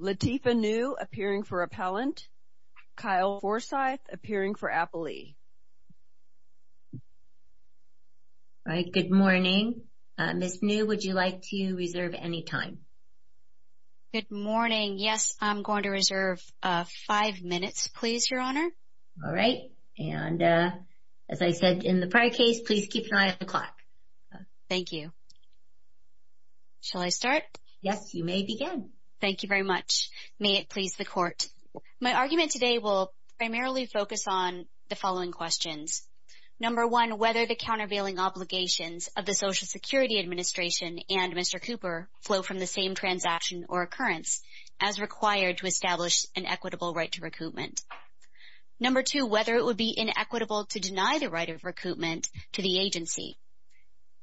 Lateefa New appearing for Appellant, Kyle Forsyth appearing for Appellee. All right, good morning. Ms. New, would you like to reserve any time? Good morning. Yes, I'm going to reserve five minutes, please, Your Honor. All right. And as I said in the prior case, please keep an eye on the clock. Thank you. Shall I start? Yes, you may begin. Thank you very much. May it please the Court. My argument today will primarily focus on the following questions. Number one, whether the countervailing obligations of the Social Security Administration and Mr. Cooper flow from the same transaction or occurrence as required to establish an equitable right to recoupment. Number two, whether it would be inequitable to deny the right of recoupment to the agency.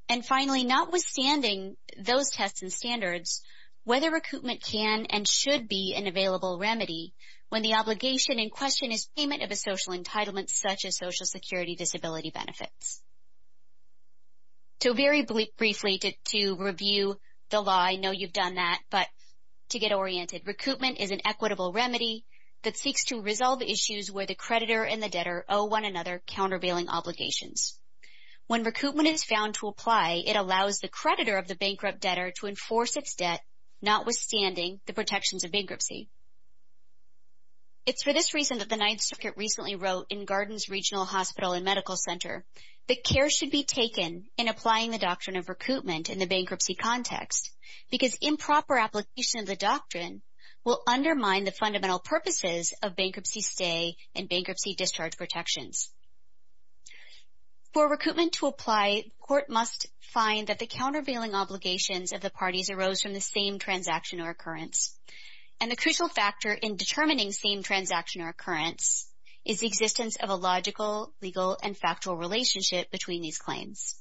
And finally, notwithstanding those tests and standards, whether recoupment can and should be an available remedy when the obligation in question is payment of a social entitlement such as Social Security disability benefits. So very briefly, to review the law, I know you've done that, but to get oriented, recoupment is an equitable remedy that seeks to resolve issues where the creditor and the debtor owe one another countervailing obligations. When recoupment is found to apply, it allows the creditor of the bankrupt debtor to enforce its debt, notwithstanding the protections of bankruptcy. It's for this reason that the Ninth Circuit recently wrote in Gardens Regional Hospital and Medical Center that care should be taken in applying the doctrine of recoupment in the bankruptcy context because improper application of the doctrine will undermine the fundamental purposes of bankruptcy stay and bankruptcy discharge protections. For recoupment to apply, the court must find that the countervailing obligations of the parties arose from the same transaction or occurrence, and the crucial factor in determining same transaction or occurrence is the existence of a logical, legal, and factual relationship between these claims.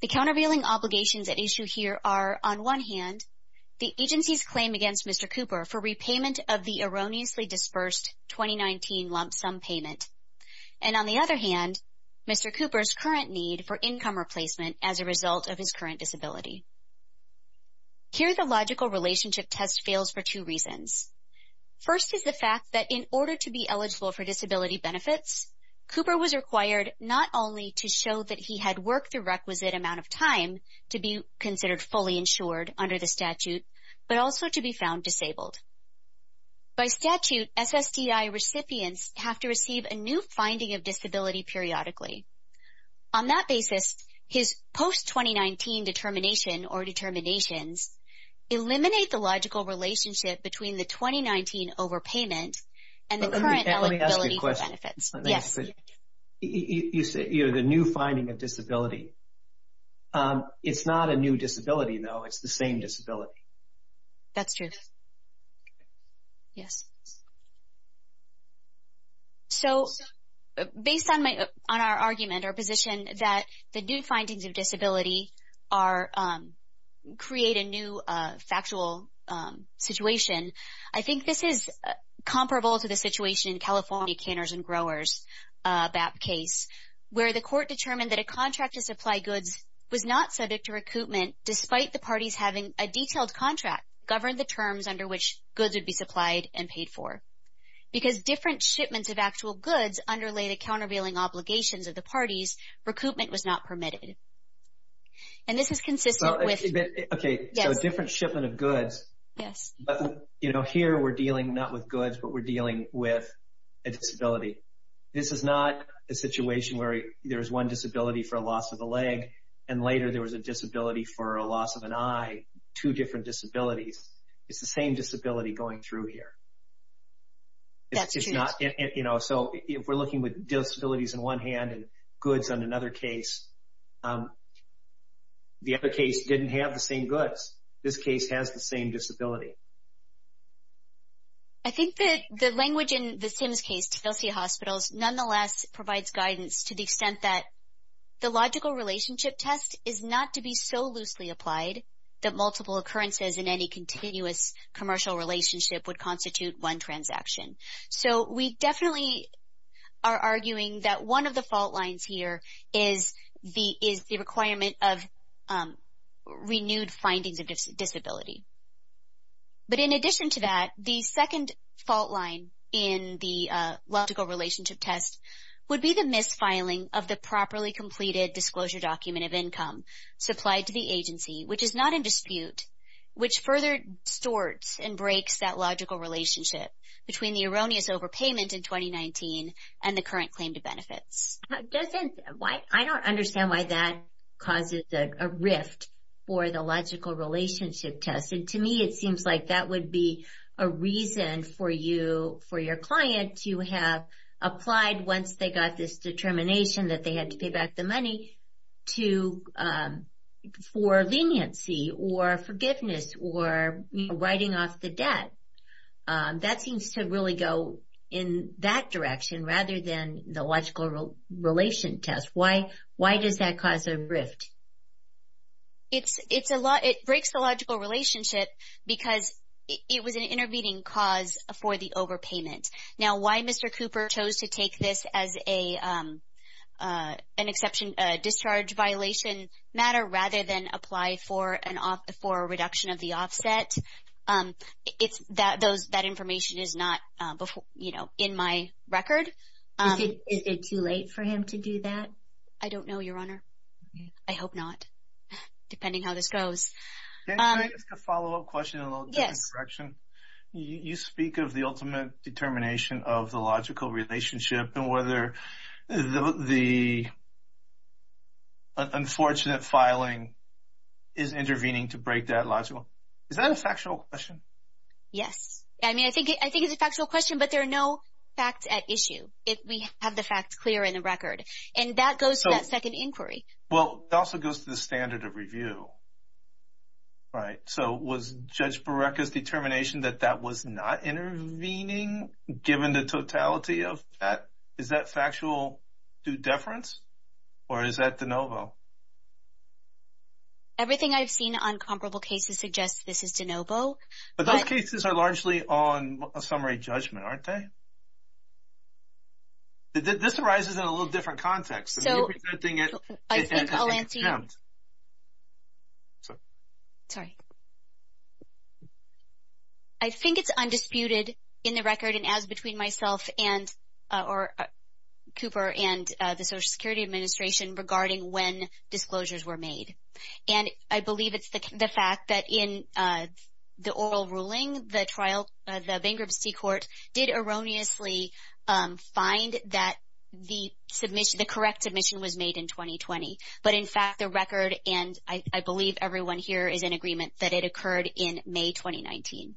The countervailing obligations at issue here are, on one hand, the agency's claim against Mr. Cooper for repayment of the erroneously dispersed 2019 lump sum payment, and on the other hand, Mr. Cooper's current need for income replacement as a result of his current disability. Here, the logical relationship test fails for two reasons. First is the fact that in order to be eligible for disability benefits, Cooper was required not only to show that he had worked the requisite amount of time to be considered fully insured under the statute, but also to be found disabled. By statute, SSDI recipients have to receive a new finding of disability periodically. On that basis, his post-2019 determination or determinations eliminate the logical relationship between the 2019 overpayment and the current eligibility benefits. Let me ask you a question. Yes. You said the new finding of disability. It's not a new disability, though. It's the same disability. That's true. Yes. So, based on our argument or position that the new findings of disability create a new factual situation, I think this is comparable to the situation in California Canors and Growers, BAP case, where the court determined that a contract to supply goods was not subject to recoupment despite the parties having a detailed contract governed the terms under which goods would be supplied and paid for. Because different shipments of actual goods underlay the countervailing obligations of the parties, recoupment was not permitted. And this is consistent with… Okay. Yes. So, a different shipment of goods. Yes. But, you know, here we're dealing not with goods, but we're dealing with a disability. This is not a situation where there is one disability for a loss of a leg and later there was a disability for a loss of an eye, two different disabilities. It's the same disability going through here. That's true. So, if we're looking with disabilities on one hand and goods on another case, the other case didn't have the same goods. This case has the same disability. I think that the language in the SIMS case, Tennessee Hospitals, nonetheless provides guidance to the extent that the logical relationship test is not to be so loosely applied that multiple occurrences in any continuous commercial relationship would constitute one transaction. So, we definitely are arguing that one of the fault lines here is the requirement of renewed findings of disability. But in addition to that, the second fault line in the logical relationship test would be the mis-filing of the properly completed disclosure document of income supplied to the agency, which is not in dispute, which further distorts and breaks that logical relationship between the erroneous overpayment in 2019 and the current claim to benefits. I don't understand why that causes a rift for the logical relationship test. To me, it seems like that would be a reason for your client to have applied, once they got this determination that they had to pay back the money, for leniency or forgiveness or writing off the debt. That seems to really go in that direction rather than the logical relation test. Why does that cause a rift? It breaks the logical relationship because it was an intervening cause for the overpayment. Now, why Mr. Cooper chose to take this as a discharge violation matter rather than apply for a reduction of the offset, that information is not in my record. Is it too late for him to do that? I don't know, Your Honor. I hope not, depending how this goes. Can I ask a follow-up question in a little different direction? Yes. You speak of the ultimate determination of the logical relationship and whether the unfortunate filing is intervening to break that logical. Is that a factual question? Yes. I mean, I think it's a factual question, but there are no facts at issue. We have the facts clear in the record. And that goes to that second inquiry. Well, it also goes to the standard of review, right? So was Judge Barreca's determination that that was not intervening, given the totality of that? Is that factual due deference, or is that de novo? Everything I've seen on comparable cases suggests this is de novo. But those cases are largely on a summary judgment, aren't they? This arises in a little different context. So I think I'll answer you. Sorry. I think it's undisputed in the record, and as between myself or Cooper and the Social Security Administration, regarding when disclosures were made. And I believe it's the fact that in the oral ruling, the bankruptcy court did erroneously find that the correct submission was made in 2020. But, in fact, the record, and I believe everyone here is in agreement, that it occurred in May 2019.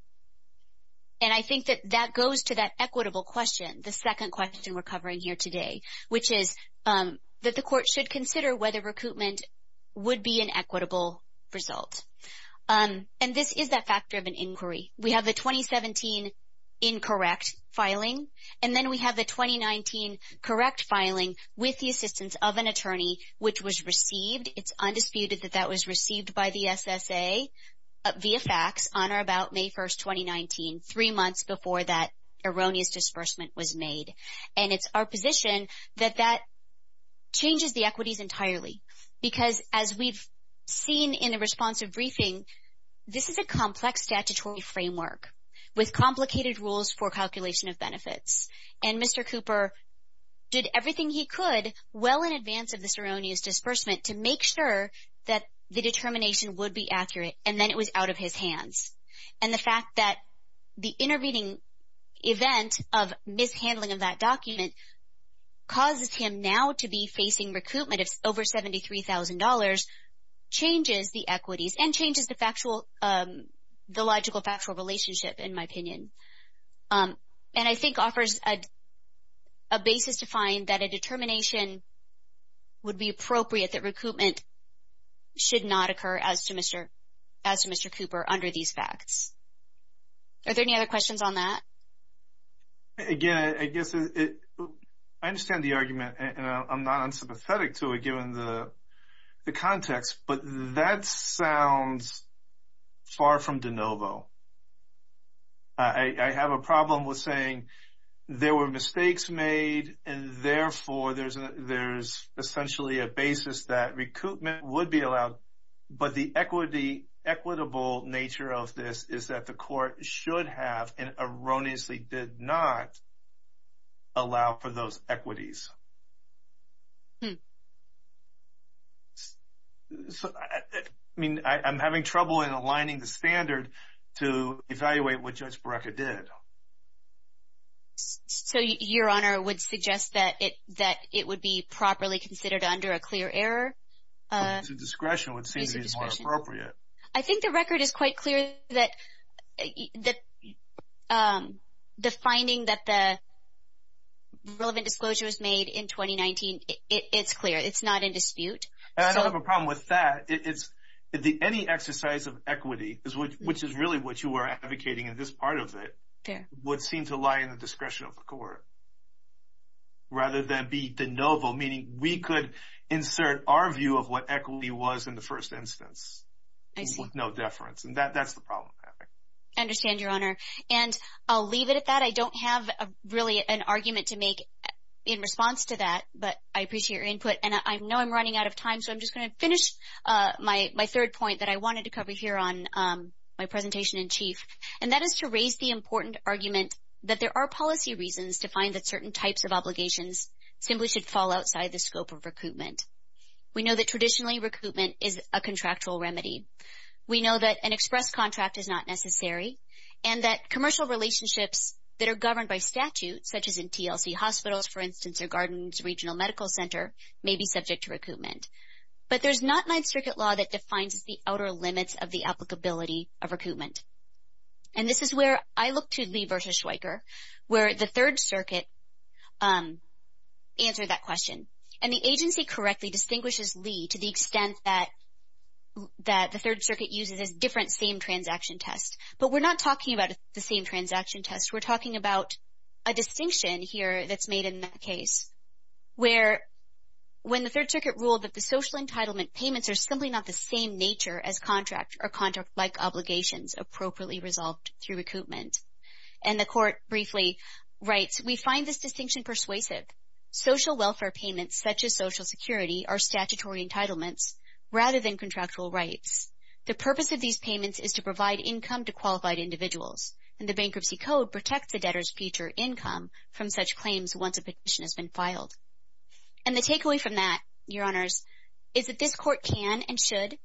And I think that that goes to that equitable question, the second question we're covering here today, which is that the court should consider whether recoupment would be an equitable result. And this is that fact-driven inquiry. We have the 2017 incorrect filing, and then we have the 2019 correct filing with the assistance of an attorney, which was received. It's undisputed that that was received by the SSA via fax on or about May 1st, 2019, three months before that erroneous disbursement was made. And it's our position that that changes the equities entirely, because as we've seen in the responsive briefing, this is a complex statutory framework with complicated rules for calculation of benefits. And Mr. Cooper did everything he could well in advance of this erroneous disbursement to make sure that the determination would be accurate, and then it was out of his hands. And the fact that the intervening event of mishandling of that document causes him now to be facing recoupment of over $73,000 changes the equities and changes the logical factual relationship, in my opinion. And I think offers a basis to find that a determination would be appropriate that recoupment should not occur as to Mr. Cooper under these facts. Are there any other questions on that? Again, I guess I understand the argument, and I'm not unsympathetic to it, given the context, but that sounds far from de novo. I have a problem with saying there were mistakes made, and therefore there's essentially a basis that recoupment would be allowed, but the equitable nature of this is that the court should have and erroneously did not allow for those equities. I mean, I'm having trouble in aligning the standard to evaluate what Judge Barreca did. So, Your Honor, would suggest that it would be properly considered under a clear error? To discretion would seem to be more appropriate. I think the record is quite clear that the finding that the relevant disclosure was made in 2019, it's clear, it's not in dispute. I don't have a problem with that. Any exercise of equity, which is really what you were advocating in this part of it, would seem to lie in the discretion of the court rather than be de novo, meaning we could insert our view of what equity was in the first instance with no deference. And that's the problem. I understand, Your Honor. And I'll leave it at that. I don't have really an argument to make in response to that, but I appreciate your input. And I know I'm running out of time, so I'm just going to finish my third point that I wanted to cover here on my presentation in chief. And that is to raise the important argument that there are policy reasons to find that certain types of obligations simply should fall outside the scope of recruitment. We know that traditionally recruitment is a contractual remedy. We know that an express contract is not necessary, and that commercial relationships that are governed by statute, such as in TLC Hospitals, for instance, or Gardens Regional Medical Center, may be subject to recruitment. But there's not Ninth Circuit law that defines the outer limits of the applicability of recruitment. And this is where I look to Lee v. Schweiker, where the Third Circuit answered that question. And the agency correctly distinguishes Lee to the extent that the Third Circuit uses this different same transaction test. But we're not talking about the same transaction test. We're talking about a distinction here that's made in that case, where when the Third Circuit ruled that the social entitlement payments are simply not the same nature as contract or contract-like obligations appropriately resolved through recruitment. And the court briefly writes, we find this distinction persuasive. Social welfare payments, such as Social Security, are statutory entitlements rather than contractual rights. The purpose of these payments is to provide income to qualified individuals. And the Bankruptcy Code protects the debtor's future income from such claims once a petition has been filed. And the takeaway from that, Your Honors, is that this court can and should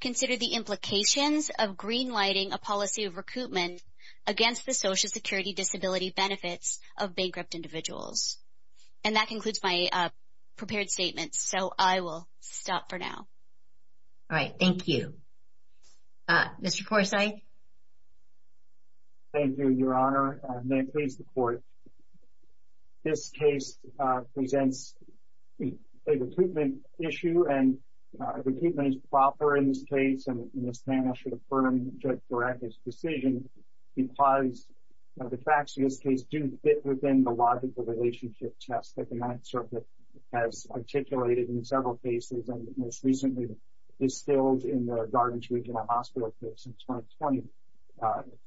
consider the implications of green-lighting a policy of recruitment against the Social Security disability benefits of bankrupt individuals. And that concludes my prepared statements, so I will stop for now. All right, thank you. Mr. Corsi? Thank you, Your Honor, and may it please the Court. This case presents a recruitment issue, and recruitment is proper in this case, and Ms. Manna should affirm Judge Barretta's decision because the facts of this case do fit within the logical relationship test that the Ninth Circuit has articulated in several cases, and most recently distilled in the Gardens Regional Hospital case in 2020,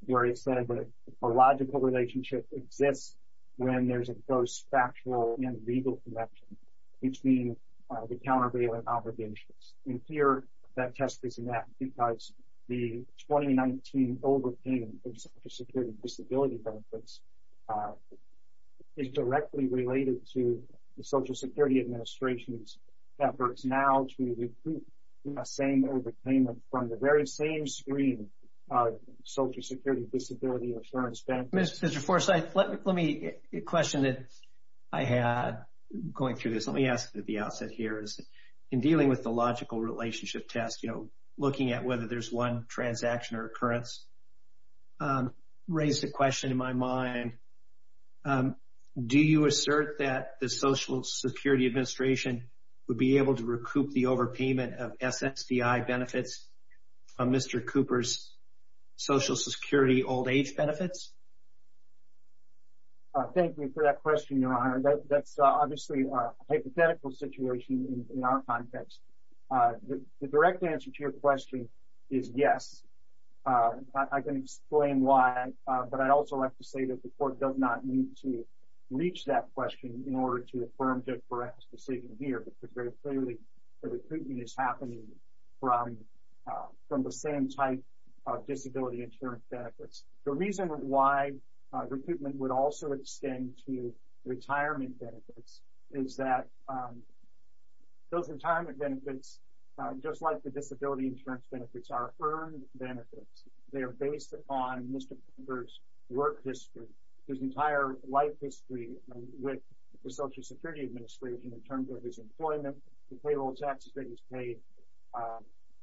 where it said that a logical relationship exists when there's a close factual and legal connection between the countervailing obligations. And here, that test is met because the 2019 overpayment of Social Security disability benefits is directly related to the Social Security Administration's efforts now to recruit the same overpayment from the very same screen of Social Security disability insurance benefits. Mr. Forsythe, let me question it. I had going through this. Let me ask at the outset here. In dealing with the logical relationship test, you know, looking at whether there's one transaction or occurrence, raised a question in my mind. Do you assert that the Social Security Administration would be able to recoup the overpayment of SSDI benefits from Mr. Cooper's Social Security old-age benefits? Thank you for that question, Your Honor. That's obviously a hypothetical situation in our context. The direct answer to your question is yes. I can explain why, but I'd also like to say that the Court does not need to reach that question in order to affirm Judge Barrett's decision here, because very clearly, the recruitment is happening from the same type of disability insurance benefits. The reason why recruitment would also extend to retirement benefits is that those retirement benefits, just like the disability insurance benefits, are earned benefits. They are based upon Mr. Cooper's work history, his entire life history with the Social Security Administration in terms of his employment, the payroll taxes that he's paid.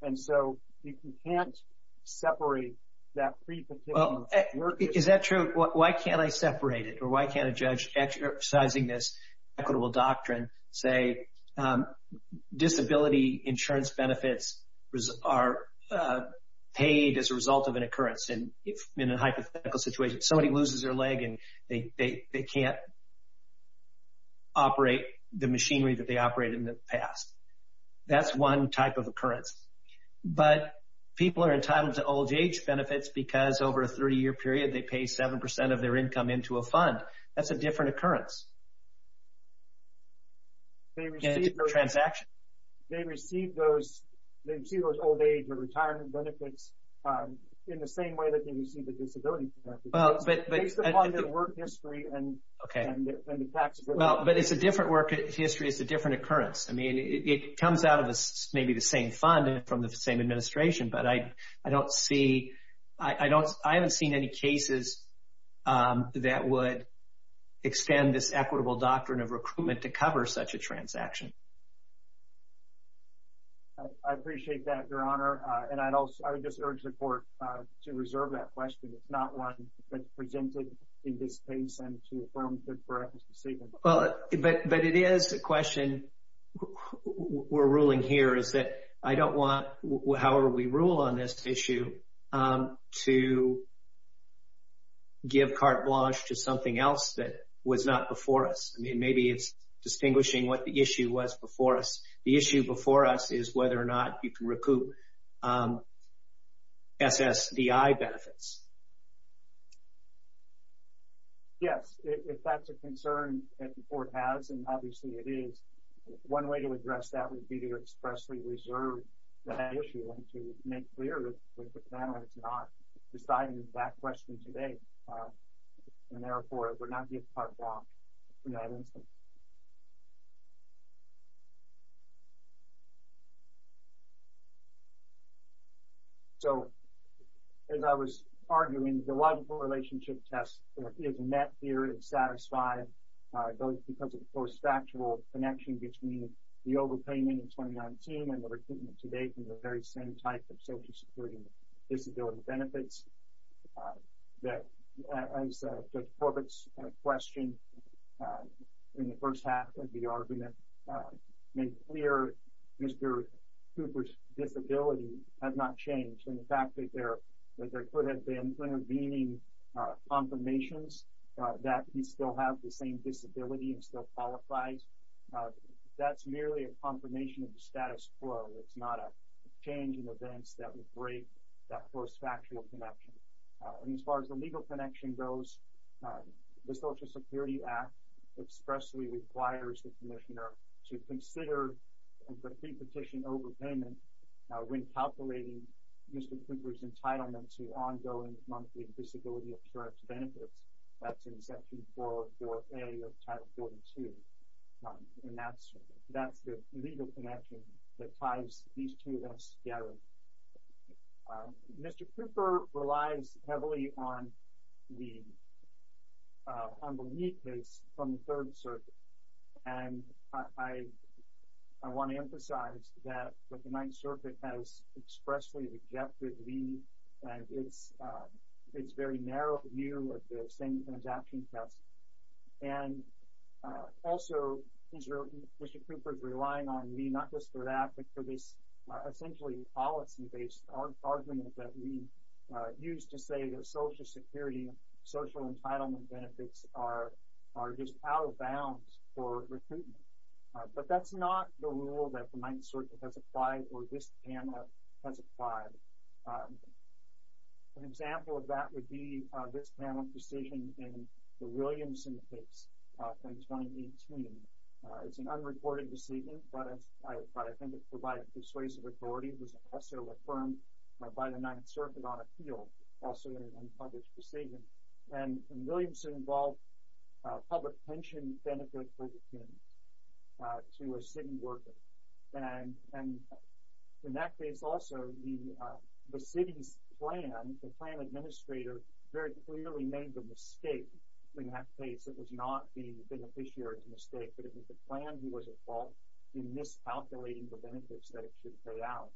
And so you can't separate that pre-partition work history. Is that true? Why can't I separate it, or why can't a judge exercising this equitable doctrine say disability insurance benefits are paid as a result of an occurrence in a hypothetical situation? Somebody loses their leg and they can't operate the machinery that they operated in the past. That's one type of occurrence. But people are entitled to old-age benefits because over a 30-year period, they pay 7% of their income into a fund. That's a different occurrence. And it's a transaction. They receive those old-age retirement benefits in the same way that they receive the disability benefits. It's based upon their work history and the tax burden. But it's a different work history. It's a different occurrence. I mean, it comes out of maybe the same fund and from the same administration, but I don't see any cases that would extend this equitable doctrine of recruitment to cover such a transaction. I appreciate that, Your Honor. And I would just urge the Court to reserve that question. It's not one that's presented in this case and to affirm the correctness of statement. But it is a question we're ruling here is that I don't want, however we rule on this issue, to give carte blanche to something else that was not before us. I mean, maybe it's distinguishing what the issue was before us. The issue before us is whether or not you can recoup SSDI benefits. Yes. If that's a concern that the Court has, and obviously it is, one way to address that would be to expressly reserve that issue and to make clear that the panel is not deciding that question today. And, therefore, it would not give carte blanche in that instance. So, as I was arguing, the logical relationship test is met here and satisfied, both because of the close factual connection between the overpayment in 2019 and the recoupment today from the very same type of Social Security disability benefits. As Judge Corbett's question in the first half of the argument made clear, Mr. Cooper's disability has not changed. And the fact that there has been intervening confirmations that he still has the same disability and still qualifies, that's merely a confirmation of the status quo. It's not a change in events that would break that close factual connection. And as far as the legal connection goes, the Social Security Act expressly requires the Commissioner to consider the pre-petition overpayment when calculating Mr. Cooper's entitlement to ongoing monthly disability insurance benefits. That's in Section 4A of Title 42. And that's the legal connection that ties these two events together. Mr. Cooper relies heavily on the humble knee case from the Third Circuit. And I want to emphasize that the Ninth Circuit has expressly rejected the knee. And it's very narrow view of the same transaction test. And also, Mr. Cooper is relying on me not just for that, but for this essentially policy-based argument that we use to say that Social Security, social entitlement benefits are just out of bounds for recruitment. But that's not the rule that the Ninth Circuit has applied or this panel has applied. An example of that would be this panel's decision in the Williamson case from 2018. It's an unreported decision, but I think it provides persuasive authority. It was also affirmed by the Ninth Circuit on appeal. Also an unpublished decision. And in Williamson involved public pension benefits to a city worker. And in that case also, the city's plan, the plan administrator, very clearly made the mistake in that case. It was not the beneficiary's mistake, but it was the plan who was at fault in miscalculating the benefits that it should pay out.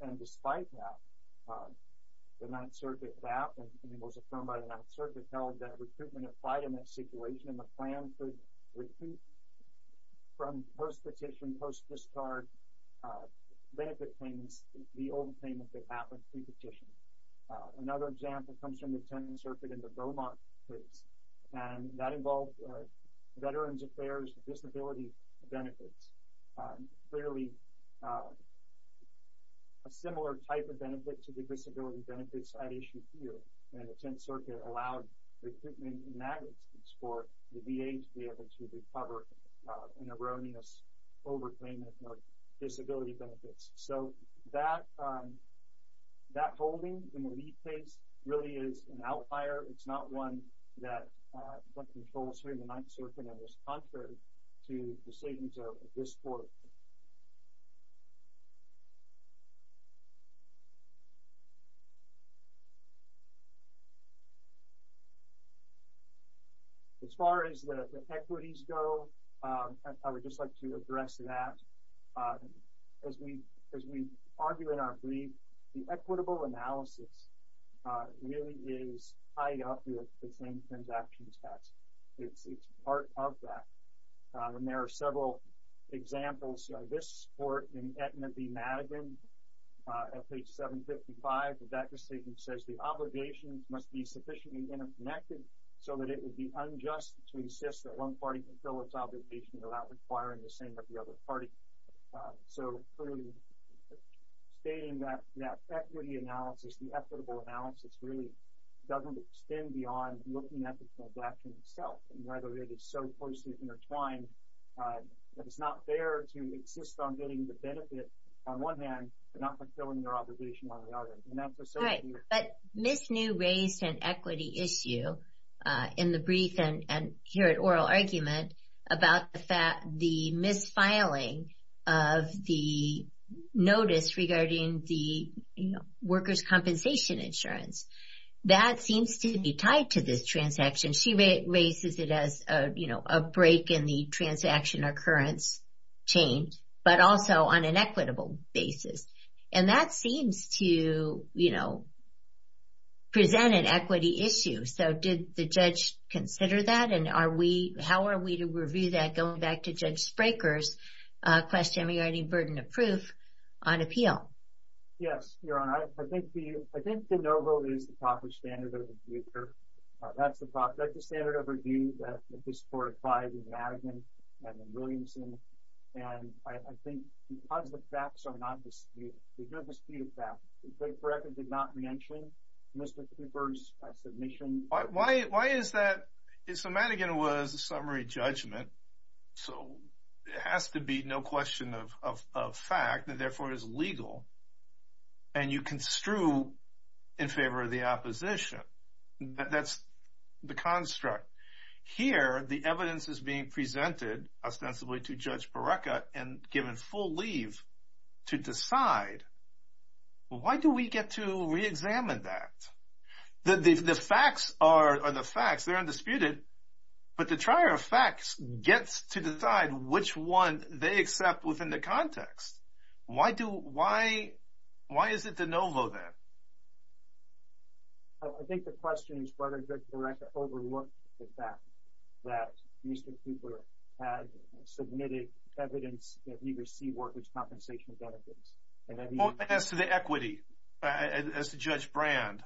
And despite that, the Ninth Circuit, that was affirmed by the Ninth Circuit held that recruitment applied in that situation. And the plan for recruitment from post-petition, post-discard benefit payments, the old payment that happened pre-petition. Another example comes from the Tenth Circuit in the Beaumont case. And that involved Veterans Affairs disability benefits. Clearly a similar type of benefit to the disability benefits at issue here. And the Tenth Circuit allowed recruitment in that instance for the VA to be able to recover an erroneous overpayment for disability benefits. So that holding in the Lee case really is an outlier. It's not one that controls here in the Ninth Circuit. And it was contrary to decisions of this court. As far as the equities go, I would just like to address that. As we argue in our brief, the equitable analysis really is tied up with the same transaction tax. It's part of that. And there are several examples. This court in Etna v. Madigan, at page 755, that decision says the obligation must be sufficiently interconnected so that it would be unjust to insist that one party fulfills its obligation without requiring the same of the other party. So stating that equity analysis, the equitable analysis, really doesn't extend beyond looking at the transaction itself and whether it is so closely intertwined that it's not fair to insist on getting the benefit on one hand and not fulfilling your obligation on the other. But Ms. New raised an equity issue in the brief and here at oral argument about the misfiling of the notice regarding the workers' compensation insurance. That seems to be tied to this transaction. She raises it as a break in the transaction occurrence change, but also on an equitable basis. And that seems to present an equity issue. So did the judge consider that? And how are we to review that going back to Judge Spraker's question regarding burden of proof on appeal? Yes, Your Honor. I think the NOVO is the proper standard of review. That's the standard of review that this court applied in Madigan and in Williamson. And I think because the facts are not disputed, they're disputed facts. Judge Brekker did not mention Mr. Cooper's submission. Why is that? So Madigan was a summary judgment. So it has to be no question of fact, and therefore it is legal. And you construe in favor of the opposition. That's the construct. Here the evidence is being presented ostensibly to Judge Brekker and given full leave to decide. Why do we get to reexamine that? The facts are the facts. They're undisputed. But the trier of facts gets to decide which one they accept within the context. Why is it the NOVO then? I think the question is whether Judge Brekker overlooked the fact that Mr. Cooper had submitted evidence that he received workers' compensation benefits. As to the equity, as to Judge Brand,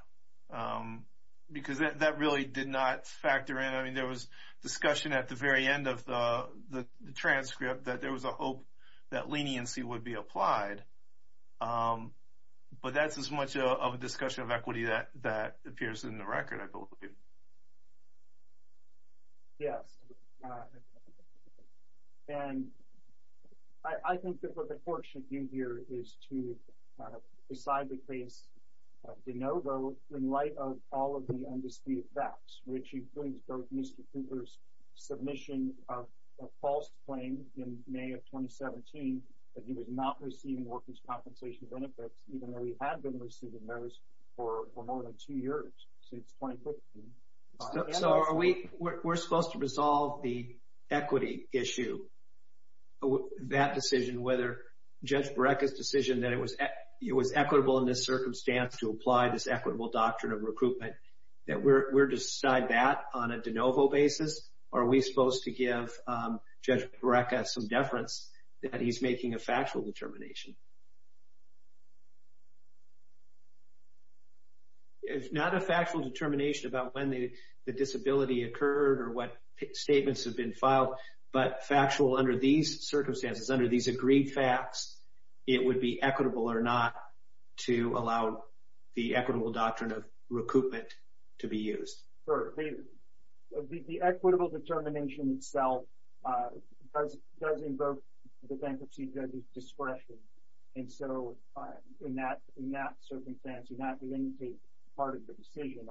because that really did not factor in. I mean, there was discussion at the very end of the transcript that there was a hope that leniency would be applied. But that's as much of a discussion of equity that appears in the record, I believe. Yes. And I think that what the court should do here is to decide the case of the NOVO in light of all of the undisputed facts, which includes both Mr. Cooper's submission of a false claim in May of 2017 that he was not receiving workers' compensation benefits, even though he had been receiving those for more than two years, since 2015. So we're supposed to resolve the equity issue. That decision, whether Judge Brekker's decision that it was equitable in this circumstance to apply this equitable doctrine of recruitment, that we're to decide that on a de novo basis? Are we supposed to give Judge Brekker some deference that he's making a factual determination? If not a factual determination about when the disability occurred or what statements have been filed, but factual under these circumstances, under these agreed facts, it would be equitable or not to allow the equitable doctrine of recruitment to be used? Sure. The equitable determination itself does invoke the bankruptcy judge's discretion. And so in that circumstance, you're not going to take part of the decision.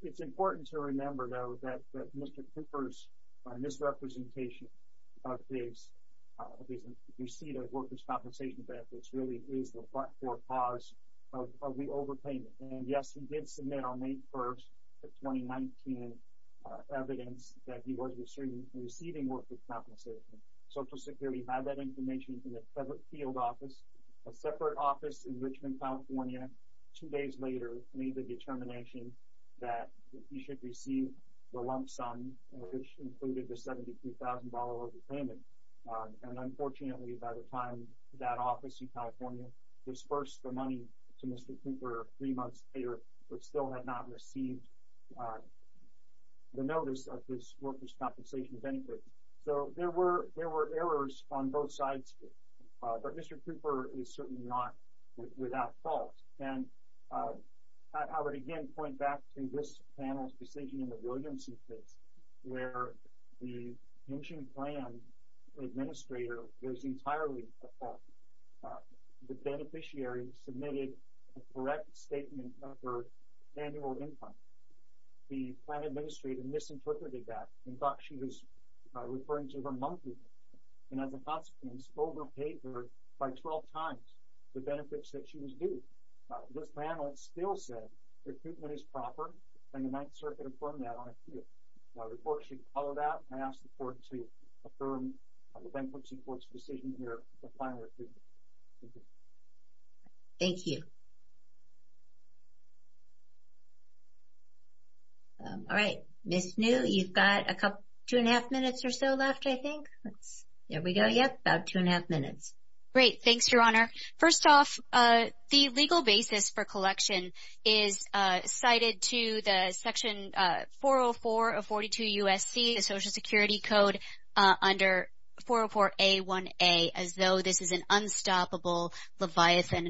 It's important to remember, though, that Mr. Cooper's misrepresentation of his receipt of workers' compensation benefits really is the front door cause of the overpayment. And yes, he did submit on May 1st of 2019 evidence that he was receiving workers' compensation. Social Security had that information in the federal field office. A separate office in Richmond, California, two days later, made the determination that he should receive the lump sum, which included the $72,000 payment. And unfortunately, by the time that office in California disbursed the money to Mr. Cooper three months later, but still had not received the notice of his workers' compensation benefits. So there were errors on both sides, but Mr. Cooper is certainly not without fault. And I would again point back to this panel's decision in the Williamson case where the pension plan administrator was entirely at fault. The beneficiary submitted a correct statement of her annual income. The plan administrator misinterpreted that and thought she was referring to her monthly income, and as a consequence, overpaid her by 12 times the benefits that she was due. This panel still said recruitment is proper, and the Ninth Circuit affirmed that on appeal. I report she followed that, and I ask the court to affirm the bankruptcy court's decision here for final recruitment. Thank you. Thank you. All right. Ms. New, you've got two and a half minutes or so left, I think. There we go. Yep, about two and a half minutes. Great. Thanks, Your Honor. First off, the legal basis for collection is cited to the section 404 of 42 U.S.C., the Social Security Code, under 404A1A, as though this is an unstoppable leviathan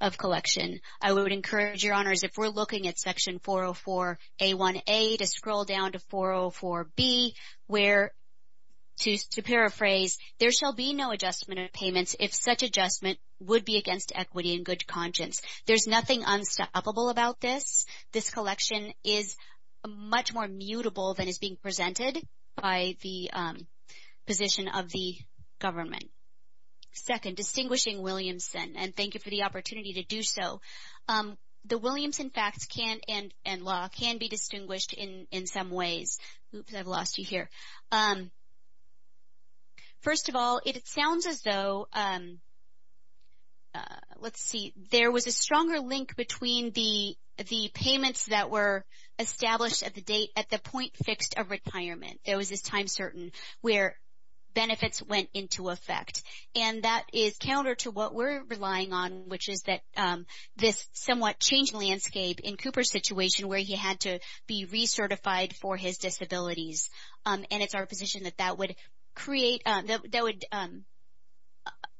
of collection. I would encourage, Your Honors, if we're looking at section 404A1A, to scroll down to 404B, where, to paraphrase, there shall be no adjustment of payments if such adjustment would be against equity and good conscience. There's nothing unstoppable about this. This collection is much more mutable than is being presented by the position of the government. Second, distinguishing Williamson, and thank you for the opportunity to do so. The Williamson facts and law can be distinguished in some ways. Oops, I've lost you here. First of all, it sounds as though, let's see, there was a stronger link between the payments that were established at the point fixed of retirement. There was this time certain where benefits went into effect, and that is counter to what we're relying on, which is that this somewhat changed landscape in Cooper's situation where he had to be recertified for his disabilities. And it's our position that that would create, that would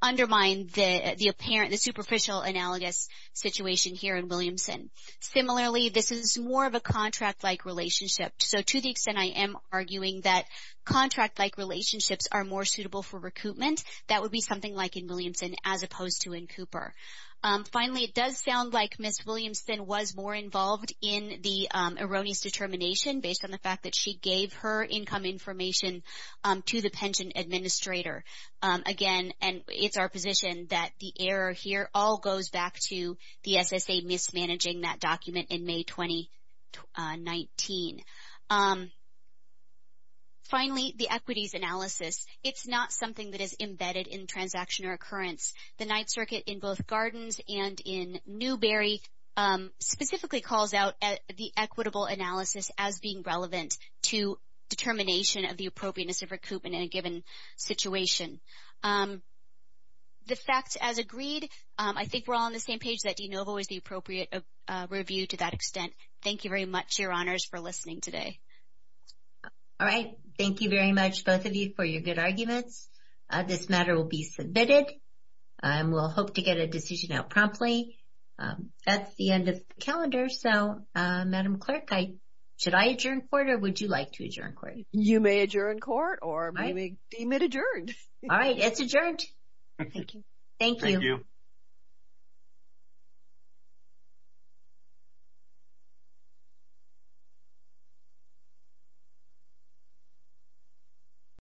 undermine the apparent, the superficial analogous situation here in Williamson. Similarly, this is more of a contract-like relationship. So to the extent I am arguing that contract-like relationships are more suitable for recoupment, that would be something like in Williamson as opposed to in Cooper. Finally, it does sound like Ms. Williamson was more involved in the erroneous determination based on the fact that she gave her income information to the pension administrator. Again, it's our position that the error here all goes back to the SSA mismanaging that document in May 2019. Finally, the equities analysis. It's not something that is embedded in transaction or occurrence. The Ninth Circuit in both Gardens and in Newberry specifically calls out the equitable analysis as being relevant to determination of the appropriateness of recoupment in a given situation. The facts as agreed, I think we're all on the same page that de novo is the appropriate review to that extent. Thank you very much, Your Honors, for listening today. All right. Thank you very much, both of you, for your good arguments. This matter will be submitted. We'll hope to get a decision out promptly. That's the end of the calendar. So, Madam Clerk, should I adjourn court or would you like to adjourn court? You may adjourn court or we may deem it adjourned. All right. It's adjourned. Thank you. Thank you.